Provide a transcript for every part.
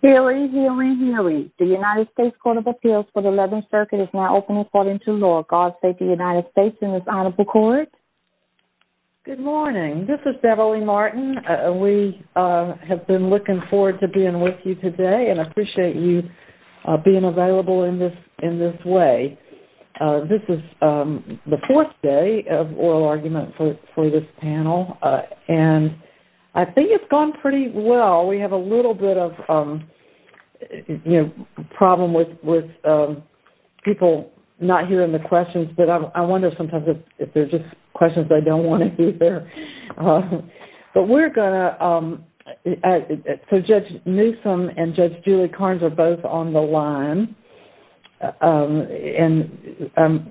Healy, Healy, Healy. The United States Court of Appeals for the 11th Circuit is now open according to law. God save the United States and this Honorable Court. Good morning. This is Beverly Martin. We have been looking forward to being with you today and appreciate you being available in this way. This is the fourth day of oral argument for this panel and I think it's gone pretty well. We have a little bit of problem with people not hearing the questions, but I wonder sometimes if they're just questions they don't want to hear. So Judge Newsom and Judge Julie Carnes are both on the line and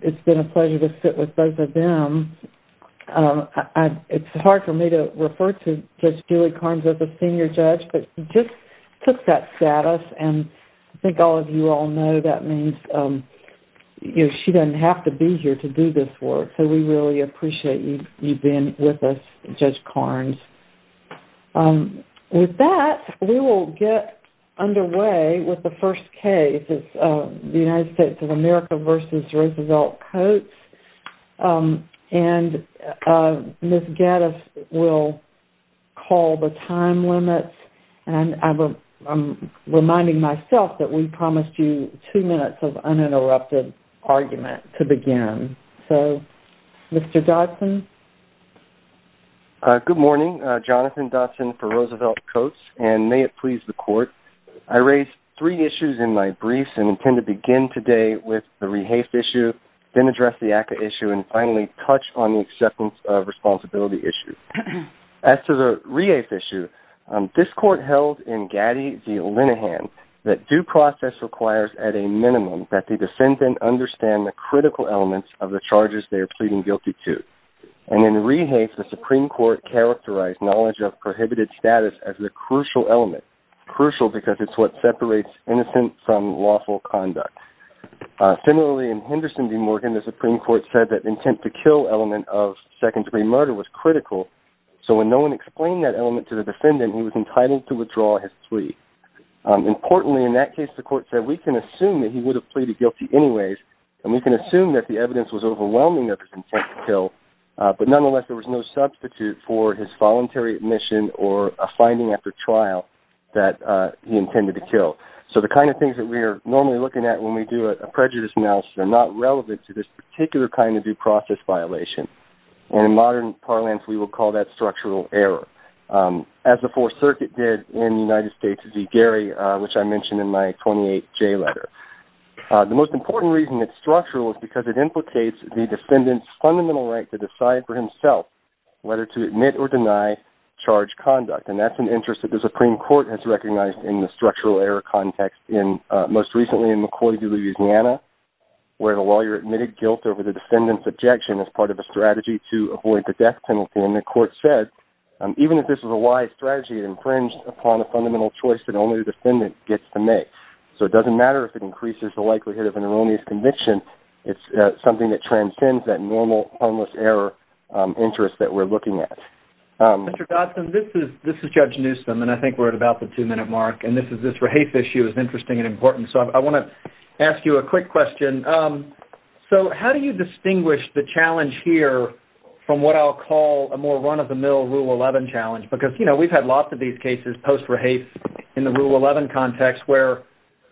it's been a pleasure to sit with both of them. It's hard for me to refer to Judge Julie Carnes as a senior judge, but she just took that status and I think all of you all know that means she doesn't have to be here to do this work. So we really appreciate you being with us, Judge Carnes. With that, we will get underway with the first case. It's the United States of America v. Roosevelt Coats. And Ms. Gaddis will call the time limit. And I'm reminding myself that we promised you two minutes of uninterrupted argument to begin. So Mr. Dodson? Good morning. Jonathan Dodson for Roosevelt Coats. And may it please the court, I raised three issues in my briefs and intend to begin today with the rehafe issue, then address the ACCA issue, and finally touch on the acceptance of responsibility issue. As to the rehafe issue, this court held in Gaddis v. Linehan that due process requires at a minimum that the defendant understand the critical elements of the charges they are pleading guilty to. And in rehafe, the Supreme Court characterized knowledge of prohibited status as the crucial element, crucial because it's what separates innocent from lawful conduct. Similarly, in Henderson v. Morgan, the Supreme Court said that intent to kill element of second-degree murder was critical. So when no one explained that element to the defendant, he was entitled to withdraw his plea. Importantly, in that case, the court said we can assume that he would have pleaded guilty anyways, and we can assume that the evidence was overwhelming of his intent to kill, but nonetheless there was no substitute for his voluntary admission or a finding after trial that he intended to kill. So the kind of things that we are normally looking at when we do a prejudice analysis are not relevant to this particular kind of due process violation. And in modern parlance, we will call that structural error, as the Fourth Circuit did in the United States v. Gary, which I mentioned in my 28J letter. The most important reason it's structural is because it implicates the defendant's fundamental right to decide for himself whether to admit or deny charged conduct. And that's an interest that the Supreme Court has recognized in the structural error context, most recently in McCoy v. Louisiana, where the lawyer admitted guilt over the defendant's objection as part of a strategy to avoid the death penalty. And the court said, even if this was a wise strategy, it infringed upon a fundamental choice that only the defendant gets to make. So it doesn't matter if it increases the likelihood of an erroneous conviction, it's something that transcends that normal, harmless error interest that we're looking at. Mr. Dodson, this is Judge Newsom, and I think we're at about the two-minute mark. And this is this Rahafe issue is interesting and important, so I want to ask you a quick question. So how do you distinguish the challenge here from what I'll call a more run-of-the-mill Rule 11 challenge? Because, you know, we've had lots of these cases post-Rahafe in the Rule 11 context where,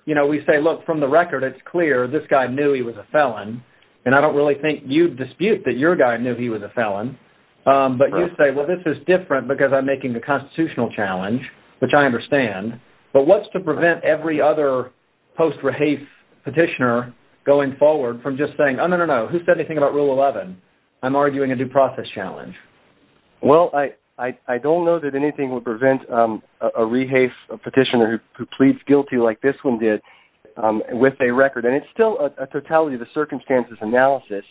you know, we say, look, from the record, it's clear this guy knew he was a felon. And I don't really think you'd dispute that your guy knew he was a felon. But you'd say, well, this is different because I'm making a constitutional challenge, which I understand. But what's to prevent every other post-Rahafe petitioner going forward from just saying, oh, no, no, no, who said anything about Rule 11? I'm arguing a due process challenge. Well, I don't know that anything would prevent a Rahafe petitioner who pleads guilty like this one did with a record. And it's still a totality of the circumstances analysis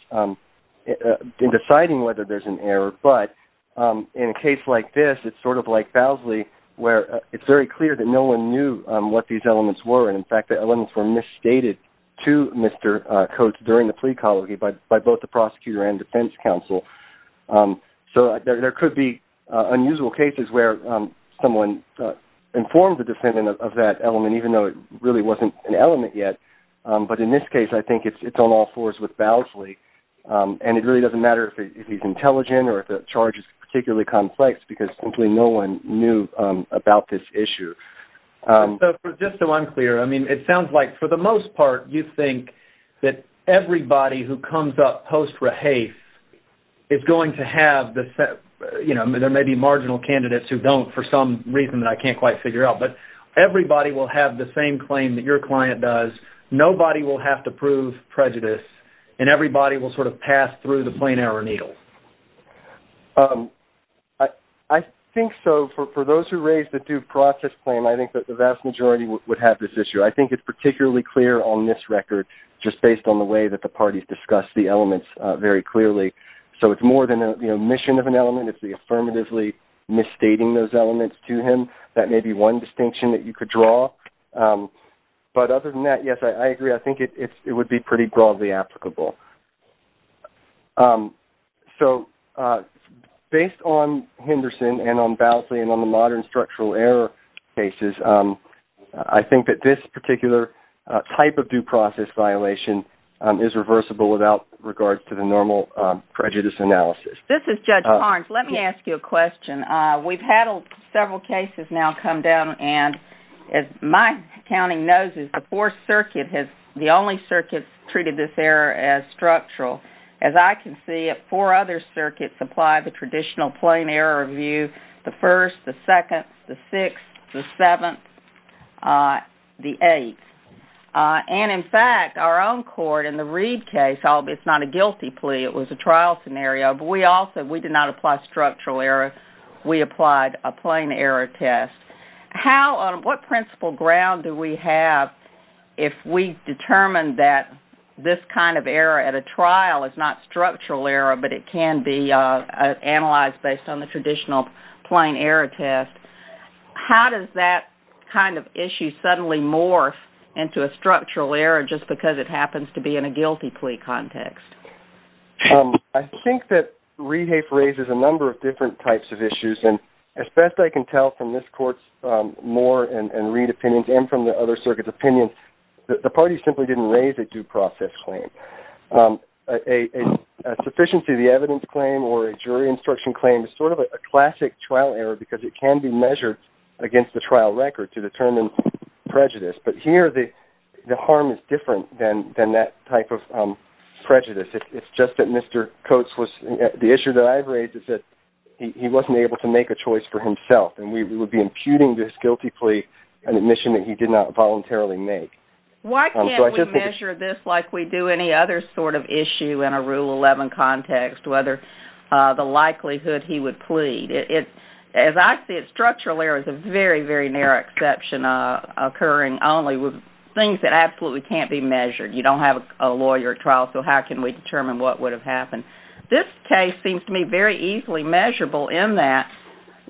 in deciding whether there's an error. But in a case like this, it's sort of like Fousley where it's very clear that no one knew what these elements were. And, in fact, the elements were misstated to Mr. Coates during the plea colony by both the prosecutor and defense counsel. So there could be unusual cases where someone informed the defendant of that element, even though it really wasn't an element yet. But in this case, I think it's on all fours with Fousley. And it really doesn't matter if he's intelligent or if the charge is particularly complex because simply no one knew about this issue. Just so I'm clear, I mean, it sounds like, for the most part, you think that everybody who comes up post-Rahafe is going to have the – you know, there may be marginal candidates who don't for some reason that I can't quite figure out. But everybody will have the same claim that your client does. Nobody will have to prove prejudice. And everybody will sort of pass through the plain error needle. I think so. For those who raised the due process claim, I think that the vast majority would have this issue. I think it's particularly clear on this record just based on the way that the parties discussed the elements very clearly. So it's more than the omission of an element. It's the affirmatively misstating those elements to him. That may be one distinction that you could draw. But other than that, yes, I agree. I think it would be pretty broadly applicable. So based on Henderson and on Bousley and on the modern structural error cases, I think that this particular type of due process violation is reversible without regard to the normal prejudice analysis. This is Judge Barnes. Let me ask you a question. We've had several cases now come down, and as my accounting knows, the fourth circuit is the only circuit that treated this error as structural. As I can see it, four other circuits apply the traditional plain error review. The first, the second, the sixth, the seventh, the eighth. And, in fact, our own court in the Reed case, it's not a guilty plea. It was a trial scenario. But we also did not apply structural error. We applied a plain error test. What principle ground do we have if we determine that this kind of error at a trial is not structural error but it can be analyzed based on the traditional plain error test? How does that kind of issue suddenly morph into a structural error just because it happens to be in a guilty plea context? I think that Reed-Hafe raises a number of different types of issues. And as best I can tell from this court's Moore and Reed opinions and from the other circuits' opinions, the parties simply didn't raise a due process claim. A sufficiency of the evidence claim or a jury instruction claim is sort of a classic trial error because it can be measured against the trial record to determine prejudice. But here the harm is different than that type of prejudice. It's just that Mr. Coates was the issue that I've raised is that he wasn't able to make a choice for himself, and we would be imputing this guilty plea an admission that he did not voluntarily make. Why can't we measure this like we do any other sort of issue in a Rule 11 context, whether the likelihood he would plead? As I see it, structural error is a very, very near exception, occurring only with things that absolutely can't be measured. You don't have a lawyer at trial, so how can we determine what would have happened? This case seems to me very easily measurable in that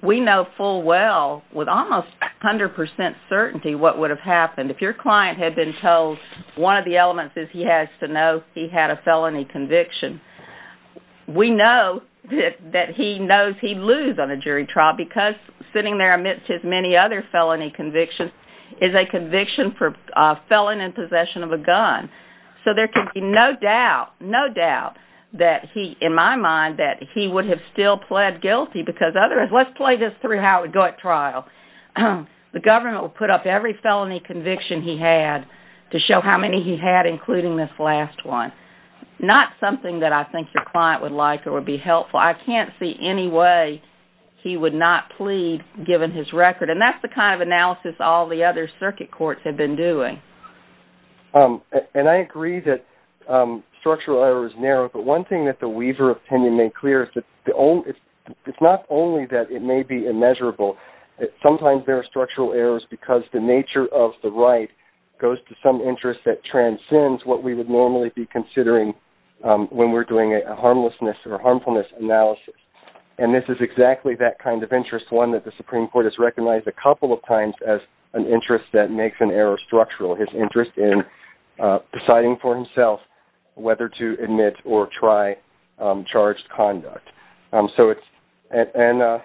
we know full well, with almost 100% certainty, what would have happened. If your client had been told one of the elements is he has to know he had a felony conviction, we know that he knows he'd lose on a jury trial because sitting there amidst his many other felony convictions is a conviction for felon in possession of a gun. So there can be no doubt, no doubt, in my mind, that he would have still pled guilty because otherwise, let's play this through how it would go at trial. The government would put up every felony conviction he had to show how many he had, including this last one. Not something that I think your client would like or would be helpful. I can't see any way he would not plead, given his record. And that's the kind of analysis all the other circuit courts have been doing. And I agree that structural error is narrow, but one thing that the Weaver opinion made clear is that it's not only that it may be immeasurable. Sometimes there are structural errors because the nature of the right goes to some interest that transcends what we would normally be considering when we're doing a harmlessness or a harmfulness analysis. And this is exactly that kind of interest, one that the Supreme Court has recognized a couple of times as an interest that makes an error structural, his interest in deciding for himself whether to admit or try charged conduct. And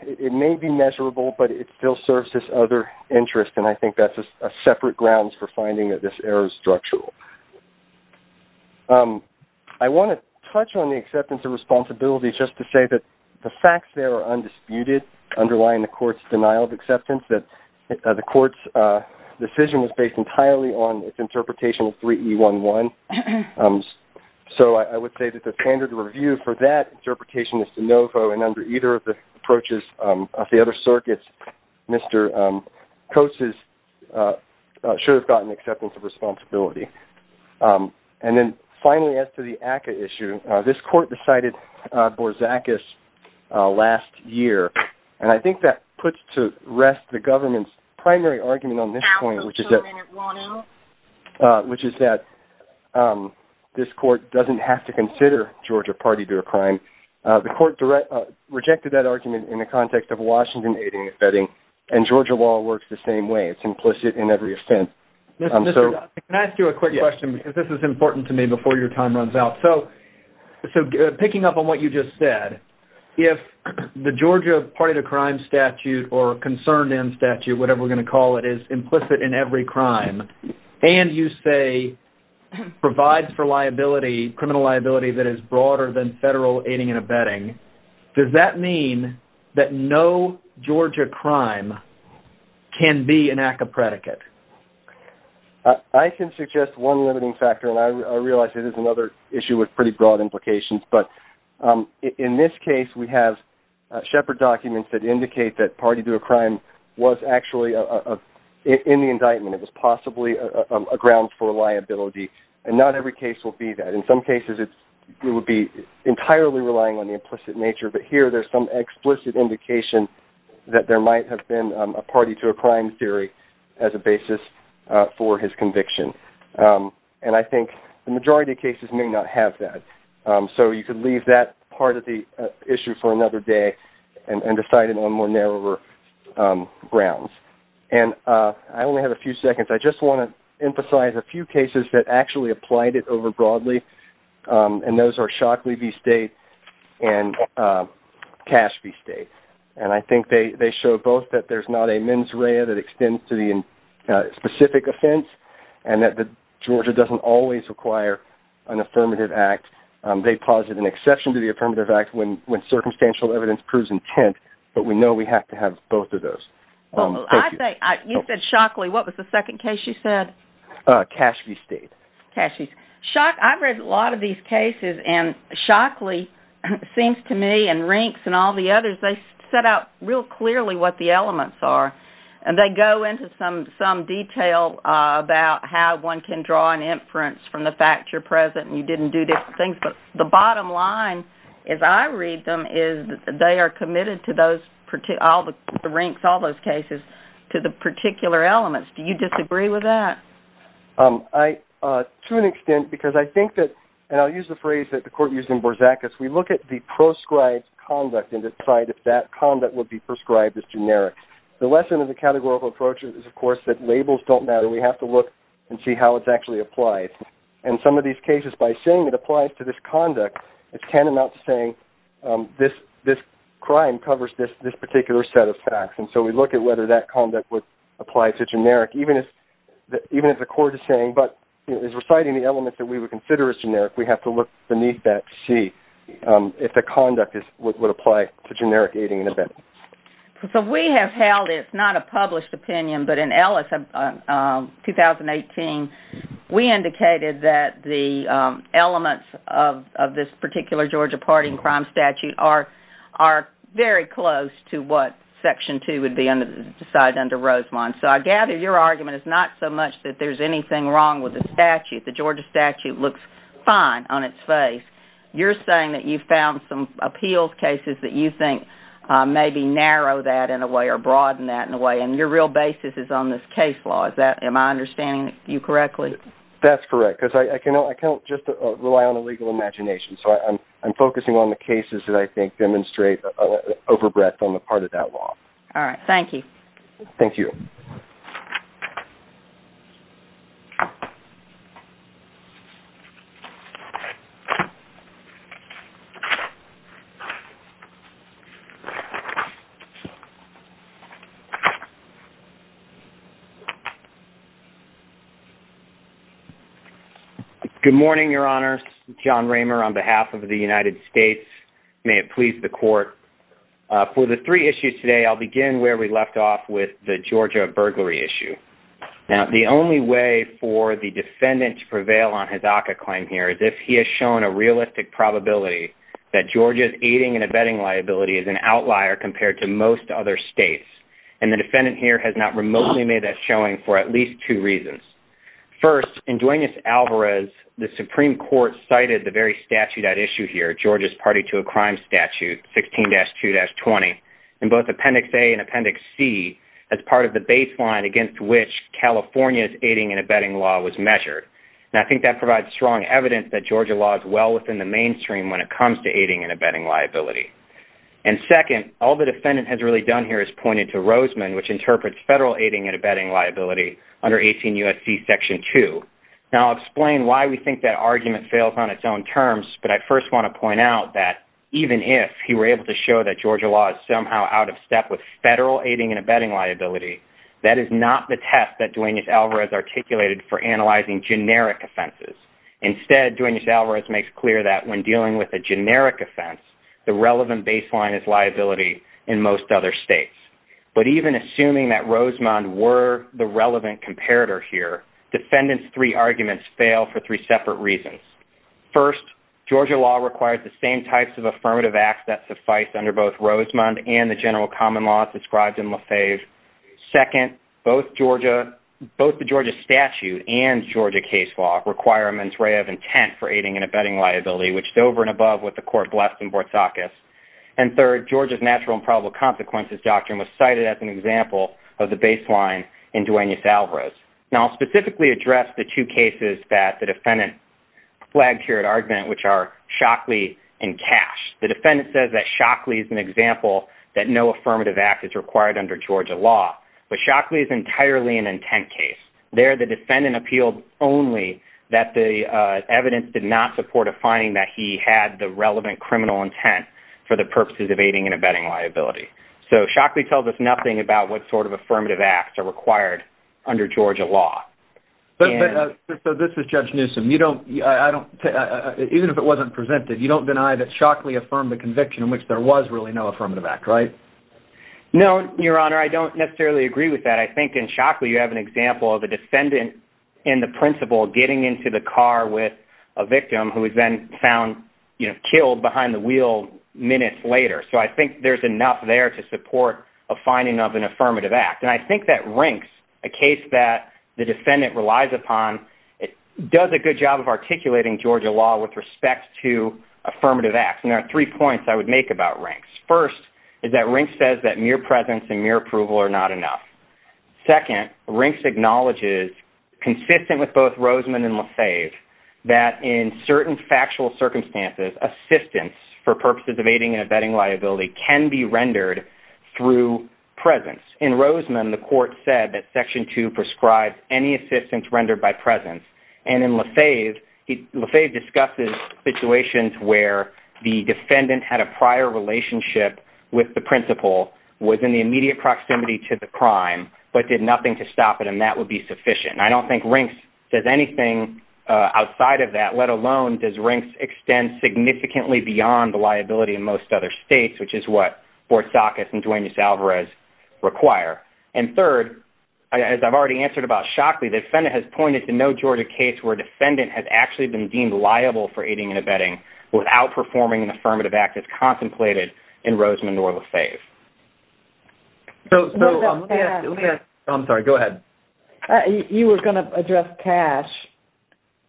it may be measurable, but it still serves this other interest, and I think that's a separate grounds for finding that this error is structural. I want to touch on the acceptance of responsibility just to say that the facts there are undisputed, underlying the court's denial of acceptance, that the court's decision was based entirely on its interpretation of 3E11. So I would say that the standard review for that interpretation is de novo, and under either of the approaches of the other circuits, Mr. Coase should have gotten acceptance of responsibility. And then finally, as to the ACCA issue, this court decided Borzacus last year, and I think that puts to rest the government's primary argument on this point, which is that this court doesn't have to consider Georgia party to a crime. The court rejected that argument in the context of Washington aiding and abetting, and Georgia law works the same way. It's implicit in every offense. Can I ask you a quick question, because this is important to me before your time runs out? So picking up on what you just said, if the Georgia party to crime statute or concerned end statute, whatever we're going to call it, is implicit in every crime, and you say provides for liability, criminal liability that is broader than federal aiding and abetting, does that mean that no Georgia crime can be an ACCA predicate? I can suggest one limiting factor, and I realize it is another issue with pretty broad implications, but in this case we have Shepard documents that indicate that party to a crime was actually in the indictment. It was possibly a ground for liability, and not every case will be that. In some cases it would be entirely relying on the implicit nature, but here there's some explicit indication that there might have been a party to a crime theory as a basis for his conviction. And I think the majority of cases may not have that, so you could leave that part of the issue for another day and decide it on more narrower grounds. I only have a few seconds. I just want to emphasize a few cases that actually applied it over broadly, and those are Shockley v. State and Cash v. State, and I think they show both that there's not a mens rea that extends to the specific offense and that Georgia doesn't always require an affirmative act. They posit an exception to the affirmative act when circumstantial evidence proves intent, but we know we have to have both of those. You said Shockley. What was the second case you said? Cash v. State. Cash v. State. I've read a lot of these cases, and Shockley seems to me and Rinks and all the others, they set out real clearly what the elements are, and they go into some detail about how one can draw an inference from the fact you're present and you didn't do different things, but the bottom line as I read them is they are committed to all the Rinks, all those cases, to the particular elements. Do you disagree with that? To an extent, because I think that, and I'll use the phrase that the court used in Borzacus, we look at the proscribed conduct and decide if that conduct would be prescribed as generic. The lesson of the categorical approach is, of course, that labels don't matter. We have to look and see how it actually applies, and some of these cases, by saying it applies to this conduct, it's tantamount to saying this crime covers this particular set of facts, and so we look at whether that conduct would apply to generic, even if the court is saying, but is reciting the elements that we would consider as generic, we have to look beneath that to see if the conduct would apply to generic aiding and abetting. So we have held it, it's not a published opinion, but in 2018, we indicated that the elements of this particular Georgia party and crime statute are very close to what Section 2 would decide under Rosemont. So I gather your argument is not so much that there's anything wrong with the statute, the Georgia statute looks fine on its face. You're saying that you've found some appeals cases that you think maybe narrow that in a way or broaden that in a way, and your real basis is on this case law. Am I understanding you correctly? That's correct, because I can't just rely on a legal imagination, so I'm focusing on the cases that I think demonstrate an overbreadth on the part of that law. All right, thank you. Thank you. Thank you. Good morning, Your Honors. John Raymer on behalf of the United States. May it please the Court. For the three issues today, I'll begin where we left off with the Georgia burglary issue. Now, the only way for the defendant to prevail on his ACCA claim here is if he has shown a realistic probability that Georgia's aiding and abetting liability is an outlier compared to most other states. And the defendant here has not remotely made that showing for at least two reasons. First, in Duenas-Alvarez, the Supreme Court cited the very statute at issue here, Georgia's party to a crime statute, 16-2-20, in both Appendix A and Appendix C, as part of the baseline against which California's aiding and abetting law was measured. Now, I think that provides strong evidence that Georgia law is well within the mainstream when it comes to aiding and abetting liability. And second, all the defendant has really done here is pointed to Roseman, which interprets federal aiding and abetting liability under 18 U.S.C. Section 2. Now, I'll explain why we think that argument fails on its own terms, but I first want to point out that even if he were able to show that Georgia law is somehow out of step with federal aiding and abetting liability, that is not the test that Duenas-Alvarez articulated for analyzing generic offenses. Instead, Duenas-Alvarez makes clear that when dealing with a generic offense, the relevant baseline is liability in most other states. But even assuming that Roseman were the relevant comparator here, defendants' three arguments fail for three separate reasons. First, Georgia law requires the same types of affirmative acts that suffice under both Second, both the Georgia statute and Georgia case law require a mens rea of intent for aiding and abetting liability, which is over and above what the court blessed in Bortzakis. And third, Georgia's natural and probable consequences doctrine was cited as an example of the baseline in Duenas-Alvarez. Now, I'll specifically address the two cases that the defendant flagged here at argument, which are Shockley and Cash. The defendant says that Shockley is an example that no affirmative act is required under Georgia law, but Shockley is entirely an intent case. There, the defendant appealed only that the evidence did not support a finding that he had the relevant criminal intent for the purposes of aiding and abetting liability. So Shockley tells us nothing about what sort of affirmative acts are required under Georgia law. This is Judge Newsom. Even if it wasn't presented, you don't deny that Shockley affirmed the conviction in which there was really no affirmative act, right? No, Your Honor, I don't necessarily agree with that. I think in Shockley you have an example of a defendant in the principle getting into the car with a victim who is then found, you know, killed behind the wheel minutes later. So I think there's enough there to support a finding of an affirmative act. And I think that Rinks, a case that the defendant relies upon, does a good job of articulating Georgia law with respect to affirmative acts. And there are three points I would make about Rinks. First is that Rinks says that mere presence and mere approval are not enough. Second, Rinks acknowledges, consistent with both Roseman and LaFave, that in certain factual circumstances, assistance for purposes of aiding and abetting liability can be rendered through presence. In Roseman, the court said that Section 2 prescribes any assistance rendered by presence. And in LaFave, LaFave discusses situations where the defendant had a prior relationship with the principal, was in the immediate proximity to the crime, but did nothing to stop it, and that would be sufficient. I don't think Rinks does anything outside of that, let alone does Rinks extend significantly beyond the liability in most other states, which is what Bortzakis and Duenes-Alvarez require. And third, as I've already answered about Shockley, the defendant has pointed to no Georgia case where a defendant has actually been deemed liable for aiding and abetting without performing an affirmative act as contemplated in Roseman nor LaFave. So let me ask, I'm sorry, go ahead. You were going to address Cash.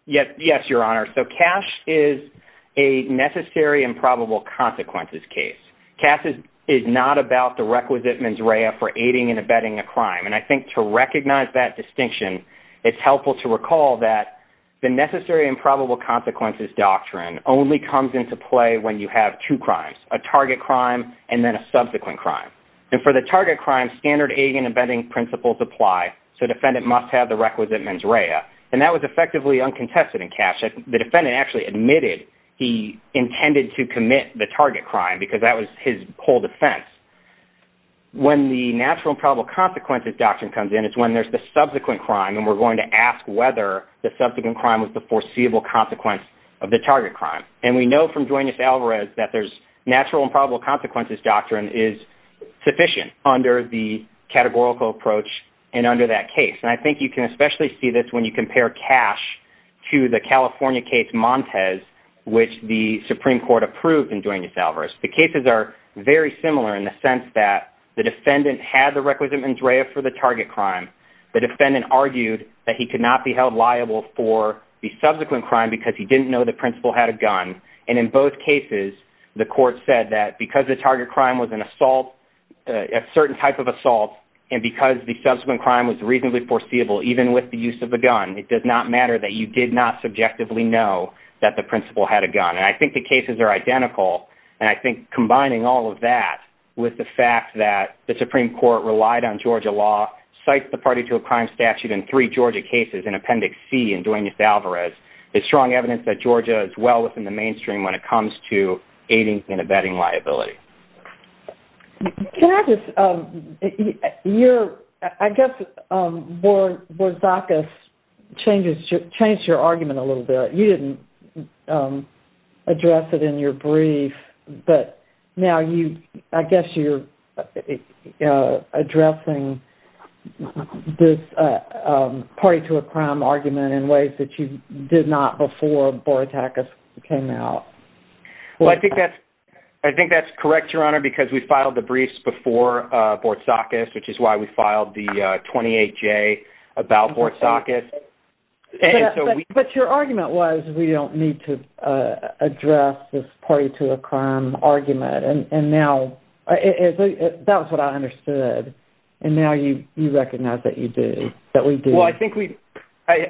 Yes, Your Honor. So Cash is a necessary and probable consequences case. Cash is not about the requisite mens rea for aiding and abetting a crime. And I think to recognize that distinction, it's helpful to recall that the necessary and probable consequences doctrine only comes into play when you have two crimes, a target crime and then a subsequent crime. And for the target crime, standard aiding and abetting principles apply, so the defendant must have the requisite mens rea. And that was effectively uncontested in Cash. The defendant actually admitted he intended to commit the target crime because that was his whole defense. When the natural and probable consequences doctrine comes in, it's when there's the subsequent crime, and we're going to ask whether the subsequent crime was the foreseeable consequence of the target crime. And we know from Duenas-Alvarez that there's natural and probable consequences doctrine is sufficient under the categorical approach and under that case. And I think you can especially see this when you compare Cash to the California case Montez, which the Supreme Court approved in Duenas-Alvarez. The cases are very similar in the sense that the defendant had the requisite mens rea for the target crime. The defendant argued that he could not be held liable for the subsequent crime because he didn't know the principal had a gun. And in both cases, the court said that because the target crime was an assault, a certain type of assault, and because the subsequent crime was reasonably foreseeable even with the use of a gun, it does not matter that you did not subjectively know that the principal had a gun. And I think the cases are identical. And I think combining all of that with the fact that the Supreme Court relied on Georgia law, cites the party to a crime statute in three Georgia cases in Appendix C in Duenas-Alvarez, is strong evidence that Georgia is well within the mainstream when it comes to aiding and abetting liability. I guess Borzacus changed your argument a little bit. You didn't address it in your brief, but now I guess you're addressing this party to a crime argument in ways that you did not before Borzacus came out. Well, I think that's correct, Your Honor, because we filed the briefs before Borzacus, which is why we filed the 28-J about Borzacus. But your argument was, we don't need to address this party to a crime argument. And now, that was what I understood. And now you recognize that you do, that we do. Well, I think we,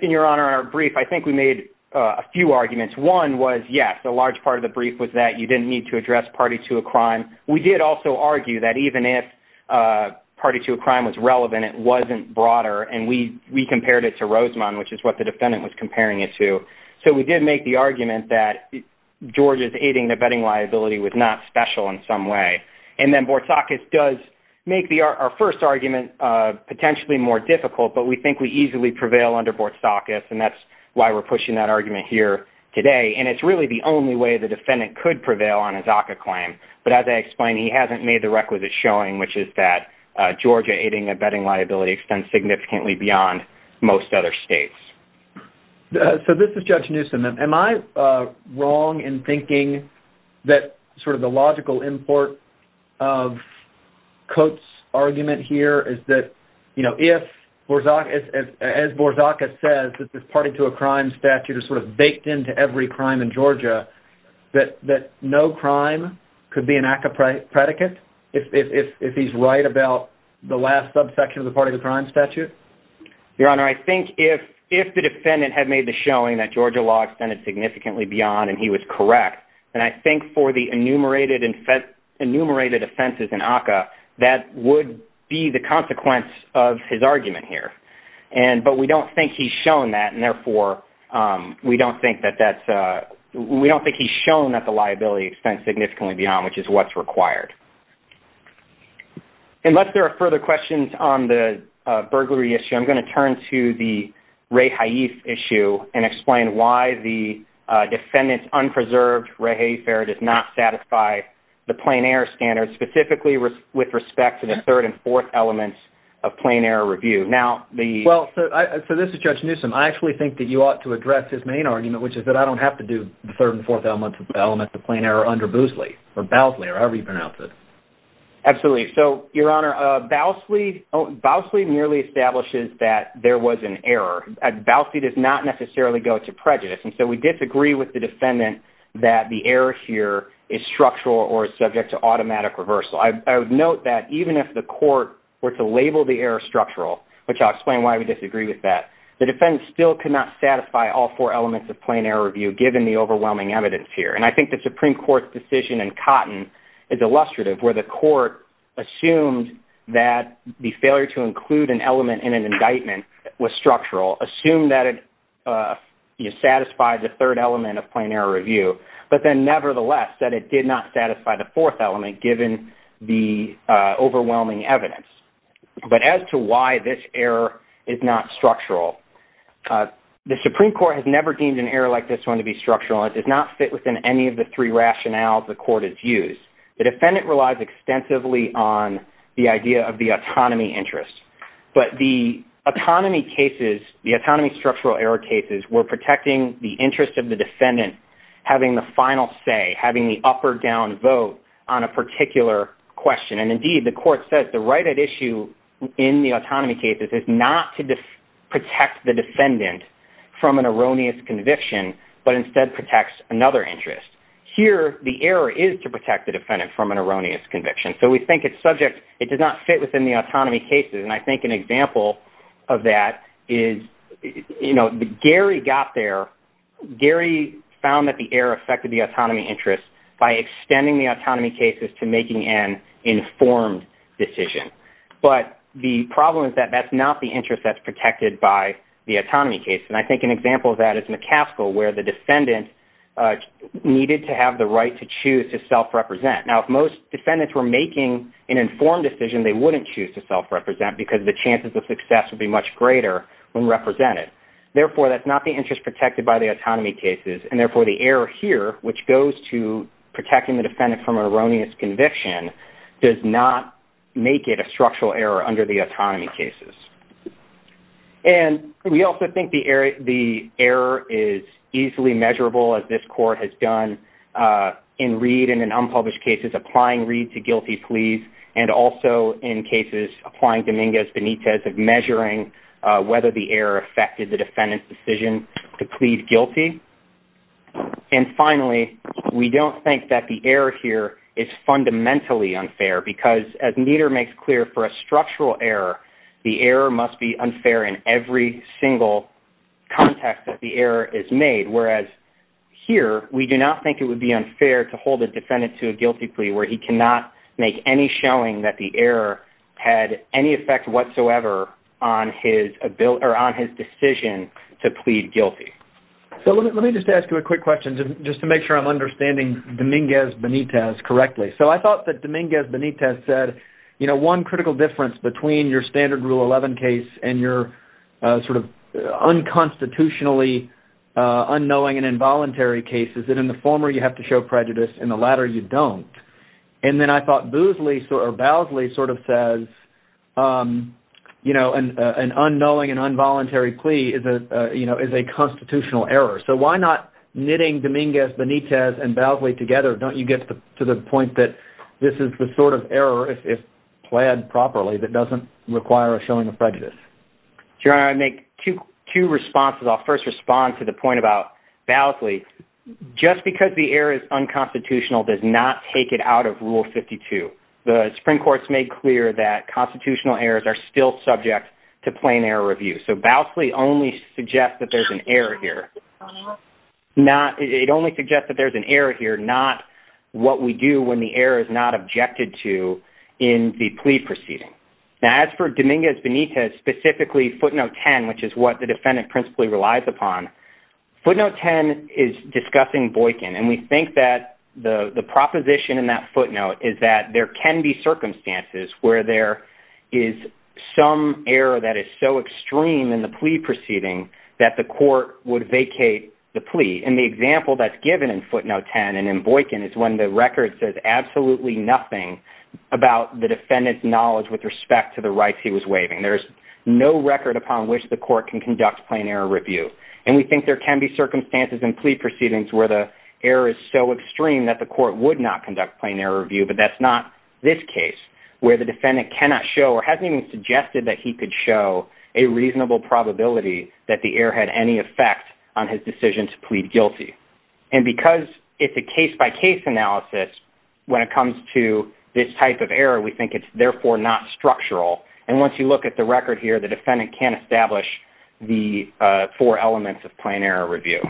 Your Honor, in our brief, I think we made a few arguments. One was, yes, a large part of the brief was that you didn't need to address party to a crime. We did also argue that even if party to a crime was relevant, it wasn't broader, and we compared it to Rosamond, which is what the defendant was comparing it to. So we did make the argument that Georgia's aiding the betting liability was not special in some way. And then Borzacus does make our first argument potentially more difficult, but we think we easily prevail under Borzacus, and that's why we're pushing that argument here today. And it's really the only way the defendant could prevail on a DACA claim. But as I explained, he hasn't made the requisite showing, which is that Georgia aiding the betting liability extends significantly beyond most other states. So this is Judge Newsom. Am I wrong in thinking that sort of the logical import of Coates' argument here is that, you know, if Borzacus, as Borzacus says, that this party to a crime statute is sort of baked into every crime in Georgia, that no crime could be an ACCA predicate if he's right about the last subsection of the party to a crime statute? Your Honor, I think if the defendant had made the showing that Georgia law extended significantly beyond and he was correct, then I think for the enumerated offenses in ACCA, that would be the consequence of his argument here. But we don't think he's shown that, and therefore we don't think that that's... We don't think he's shown that the liability extends significantly beyond, which is what's required. Unless there are further questions on the burglary issue, I'm going to turn to the Rae Haif issue and explain why the defendant's unpreserved Rae Haif error does not satisfy the plain error standard, specifically with respect to the third and fourth elements of plain error review. Well, so this is Judge Newsom. I actually think that you ought to address his main argument, which is that I don't have to do the third and fourth elements of plain error under Bousley, or Bousley, or however you pronounce it. Absolutely. So, Your Honor, Bousley merely establishes that there was an error. Bousley does not necessarily go to prejudice, and so we disagree with the defendant that the error here is structural or is subject to automatic reversal. I would note that even if the court were to label the error structural, which I'll explain why we disagree with that, the defendant still could not satisfy all four elements of plain error review given the overwhelming evidence here. And I think the Supreme Court's decision in Cotton is illustrative where the court assumed that the failure to include an element in an indictment was structural, assumed that it satisfied the third element of plain error review, but then nevertheless said it did not satisfy the fourth element given the overwhelming evidence. But as to why this error is not structural, the Supreme Court has never deemed an error like this one to be structural. It does not fit within any of the three rationales the court has used. The defendant relies extensively on the idea of the autonomy interest, but the autonomy cases, the autonomy structural error cases, were protecting the interest of the defendant having the final say, having the up or down vote on a particular question. And indeed, the court says the right at issue in the autonomy cases is not to protect the defendant from an erroneous conviction, but instead protects another interest. Here, the error is to protect the defendant from an erroneous conviction. So we think it's subject, it does not fit within the autonomy cases, and I think an example of that is, you know, Gary got there, Gary found that the error affected the autonomy interest by extending the autonomy cases to making an informed decision. But the problem is that that's not the interest that's protected by the autonomy case, and I think an example of that is McCaskill, where the defendant needed to have the right to choose to self-represent. Now, if most defendants were making an informed decision, they wouldn't choose to self-represent because the chances of success would be much greater when represented. Therefore, that's not the interest protected by the autonomy cases, and therefore the error here, which goes to protecting the defendant from an erroneous conviction, does not make it a structural error under the autonomy cases. And we also think the error is easily measurable, as this court has done in Reed and in unpublished cases, applying Reed to guilty pleas, and also in cases applying Dominguez-Benitez of measuring whether the error affected the defendant's decision to plead guilty. And finally, we don't think that the error here is fundamentally unfair because, as Nieder makes clear, for a structural error, the error must be unfair in every single context that the error is made, whereas here, we do not think it would be unfair to hold a defendant to a guilty plea where he cannot make any showing that the error had any effect whatsoever on his decision to plead guilty. So let me just ask you a quick question just to make sure I'm understanding Dominguez-Benitez correctly. So I thought that Dominguez-Benitez said, you know, one critical difference between your standard Rule 11 case and your sort of unconstitutionally unknowing and involuntary case is that in the former, you have to show prejudice, in the latter, you don't. And then I thought Bousley sort of says, you know, an unknowing and involuntary plea is a constitutional error. So why not knitting Dominguez-Benitez and Bousley together? Don't you get to the point that this is the sort of error, if plaid properly, that doesn't require a showing of prejudice? Your Honor, I make two responses. I'll first respond to the point about Bousley. Just because the error is unconstitutional does not take it out of Rule 52. The Supreme Court has made clear that constitutional errors are still subject to plain error review. So Bousley only suggests that there's an error here. It only suggests that there's an error here, not what we do when the error is not objected to in the plea proceeding. Now, as for Dominguez-Benitez, specifically footnote 10, which is what the defendant principally relies upon, footnote 10 is discussing Boykin, and we think that the proposition in that footnote is that there can be circumstances where there is some error that is so extreme in the plea proceeding that the court would vacate the plea. And the example that's given in footnote 10 and in Boykin is when the record says absolutely nothing about the defendant's knowledge with respect to the rights he was waiving. There's no record upon which the court can conduct plain error review. And we think there can be circumstances in plea proceedings where the error is so extreme that the court would not conduct plain error review, but that's not this case, where the defendant cannot show or hasn't even suggested that he could show a reasonable probability that the error had any effect on his decision to plead guilty. And because it's a case-by-case analysis, when it comes to this type of error, we think it's therefore not structural. And once you look at the record here, the defendant can't establish the four elements of plain error review.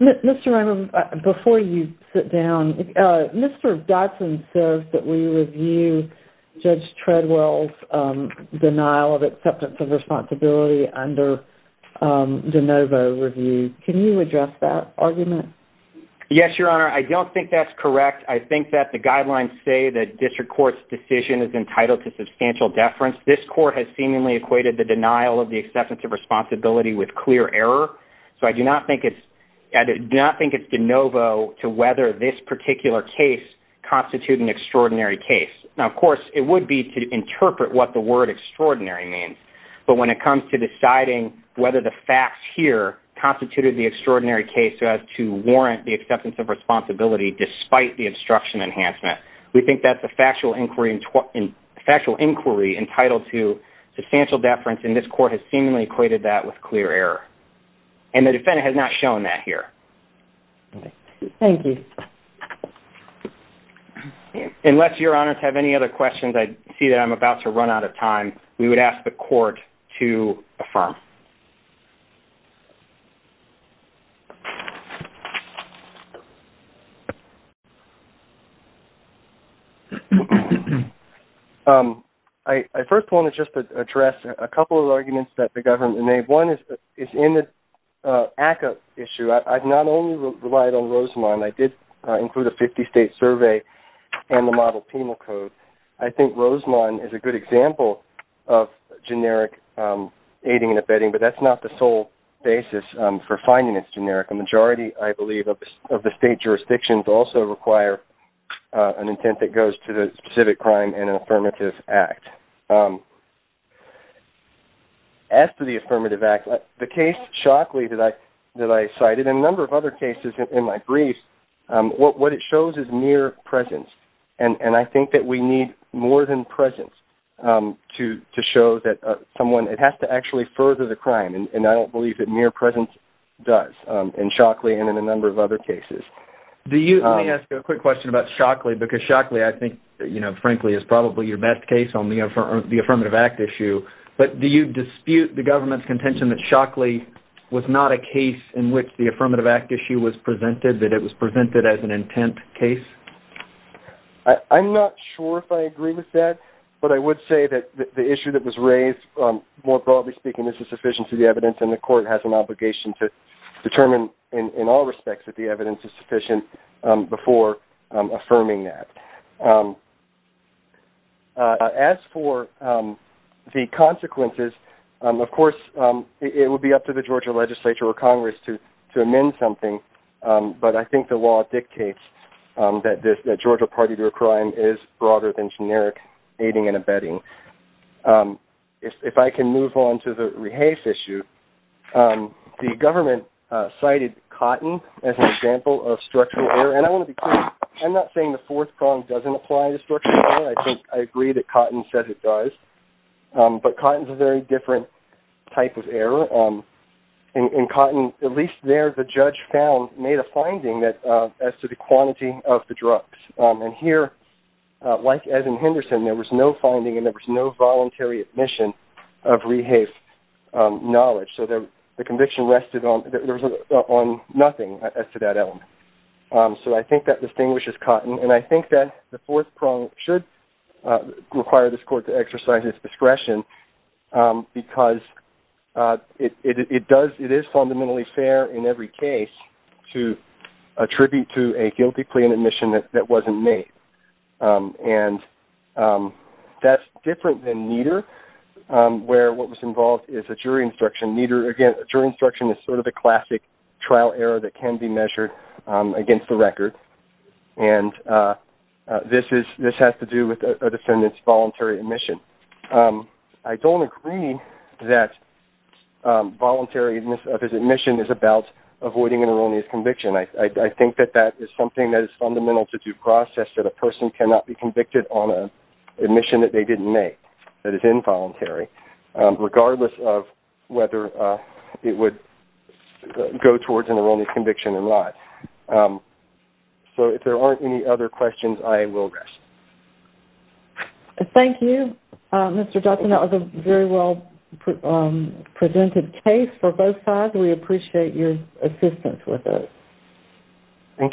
Mr. Raymond, before you sit down, Mr. Dodson says that we review Judge Treadwell's denial of acceptance of responsibility under de novo review. Can you address that argument? Yes, Your Honor. I don't think that's correct. I think that the guidelines say that district court's decision is entitled to substantial deference. This court has seemingly equated the denial of the acceptance of responsibility with clear error, so I do not think it's de novo to whether this particular case constitutes an extraordinary case. Now, of course, it would be to interpret what the word extraordinary means, but when it comes to deciding whether the facts here constituted the extraordinary case so as to warrant the acceptance of responsibility despite the obstruction enhancement, we think that's a factual inquiry entitled to substantial deference, and this court has seemingly equated that with clear error. And the defendant has not shown that here. Thank you. Unless Your Honors have any other questions, I see that I'm about to run out of time. We would ask the court to affirm. Thank you. I first want to just address a couple of arguments that the government made. One is in the ACCA issue. I've not only relied on Rosamond. I did include a 50-state survey and the model penal code. I think Rosamond is a good example of generic aiding and abetting, but that's not the sole basis for finding it's generic. A majority, I believe, of the state jurisdictions also require an intent that goes to the specific crime in an affirmative act. As to the affirmative act, the case shockingly that I cited and a number of other cases in my brief, what it shows is mere presence, and I think that we need more than presence to show that someone... It has to actually further the crime, and I don't believe that mere presence does in Shockley and in a number of other cases. Let me ask you a quick question about Shockley, because Shockley, I think, frankly, is probably your best case on the affirmative act issue. But do you dispute the government's contention that Shockley was not a case in which the affirmative act issue was presented, that it was presented as an intent case? I'm not sure if I agree with that, but I would say that the issue that was raised, more broadly speaking, this is sufficient to the evidence, and the court has an obligation to determine in all respects that the evidence is sufficient before affirming that. As for the consequences, of course, it would be up to the Georgia legislature or Congress to amend something, but I think the law dictates that the Georgia party to a crime is broader than generic aiding and abetting. If I can move on to the Rehase issue, the government cited Cotton as an example of structural error, and I want to be clear, I'm not saying the fourth prong doesn't apply to structural error. I think I agree that Cotton said it does, but Cotton's a very different type of error. In Cotton, at least there, the judge made a finding as to the quantity of the drugs, and here, like as in Henderson, there was no finding and there was no voluntary admission of Rehase knowledge, so the conviction rested on nothing as to that element. So I think that distinguishes Cotton, and I think that the fourth prong should require this court to exercise its discretion because it is fundamentally fair in every case to attribute to a guilty plea an admission that wasn't made, and that's different than Nieder, where what was involved is a jury instruction. Nieder, again, a jury instruction is sort of a classic trial error that can be measured against the record, and this has to do with a defendant's voluntary admission. I don't agree that voluntary admission is about avoiding an erroneous conviction. I think that that is something that is fundamental to due process, that a person cannot be convicted on an admission that they didn't make, that is involuntary, regardless of whether it would go towards an erroneous conviction or not. So if there aren't any other questions, I will rest. Thank you, Mr. Johnson. That was a very well presented case for both sides. We appreciate your assistance with it. Thank you.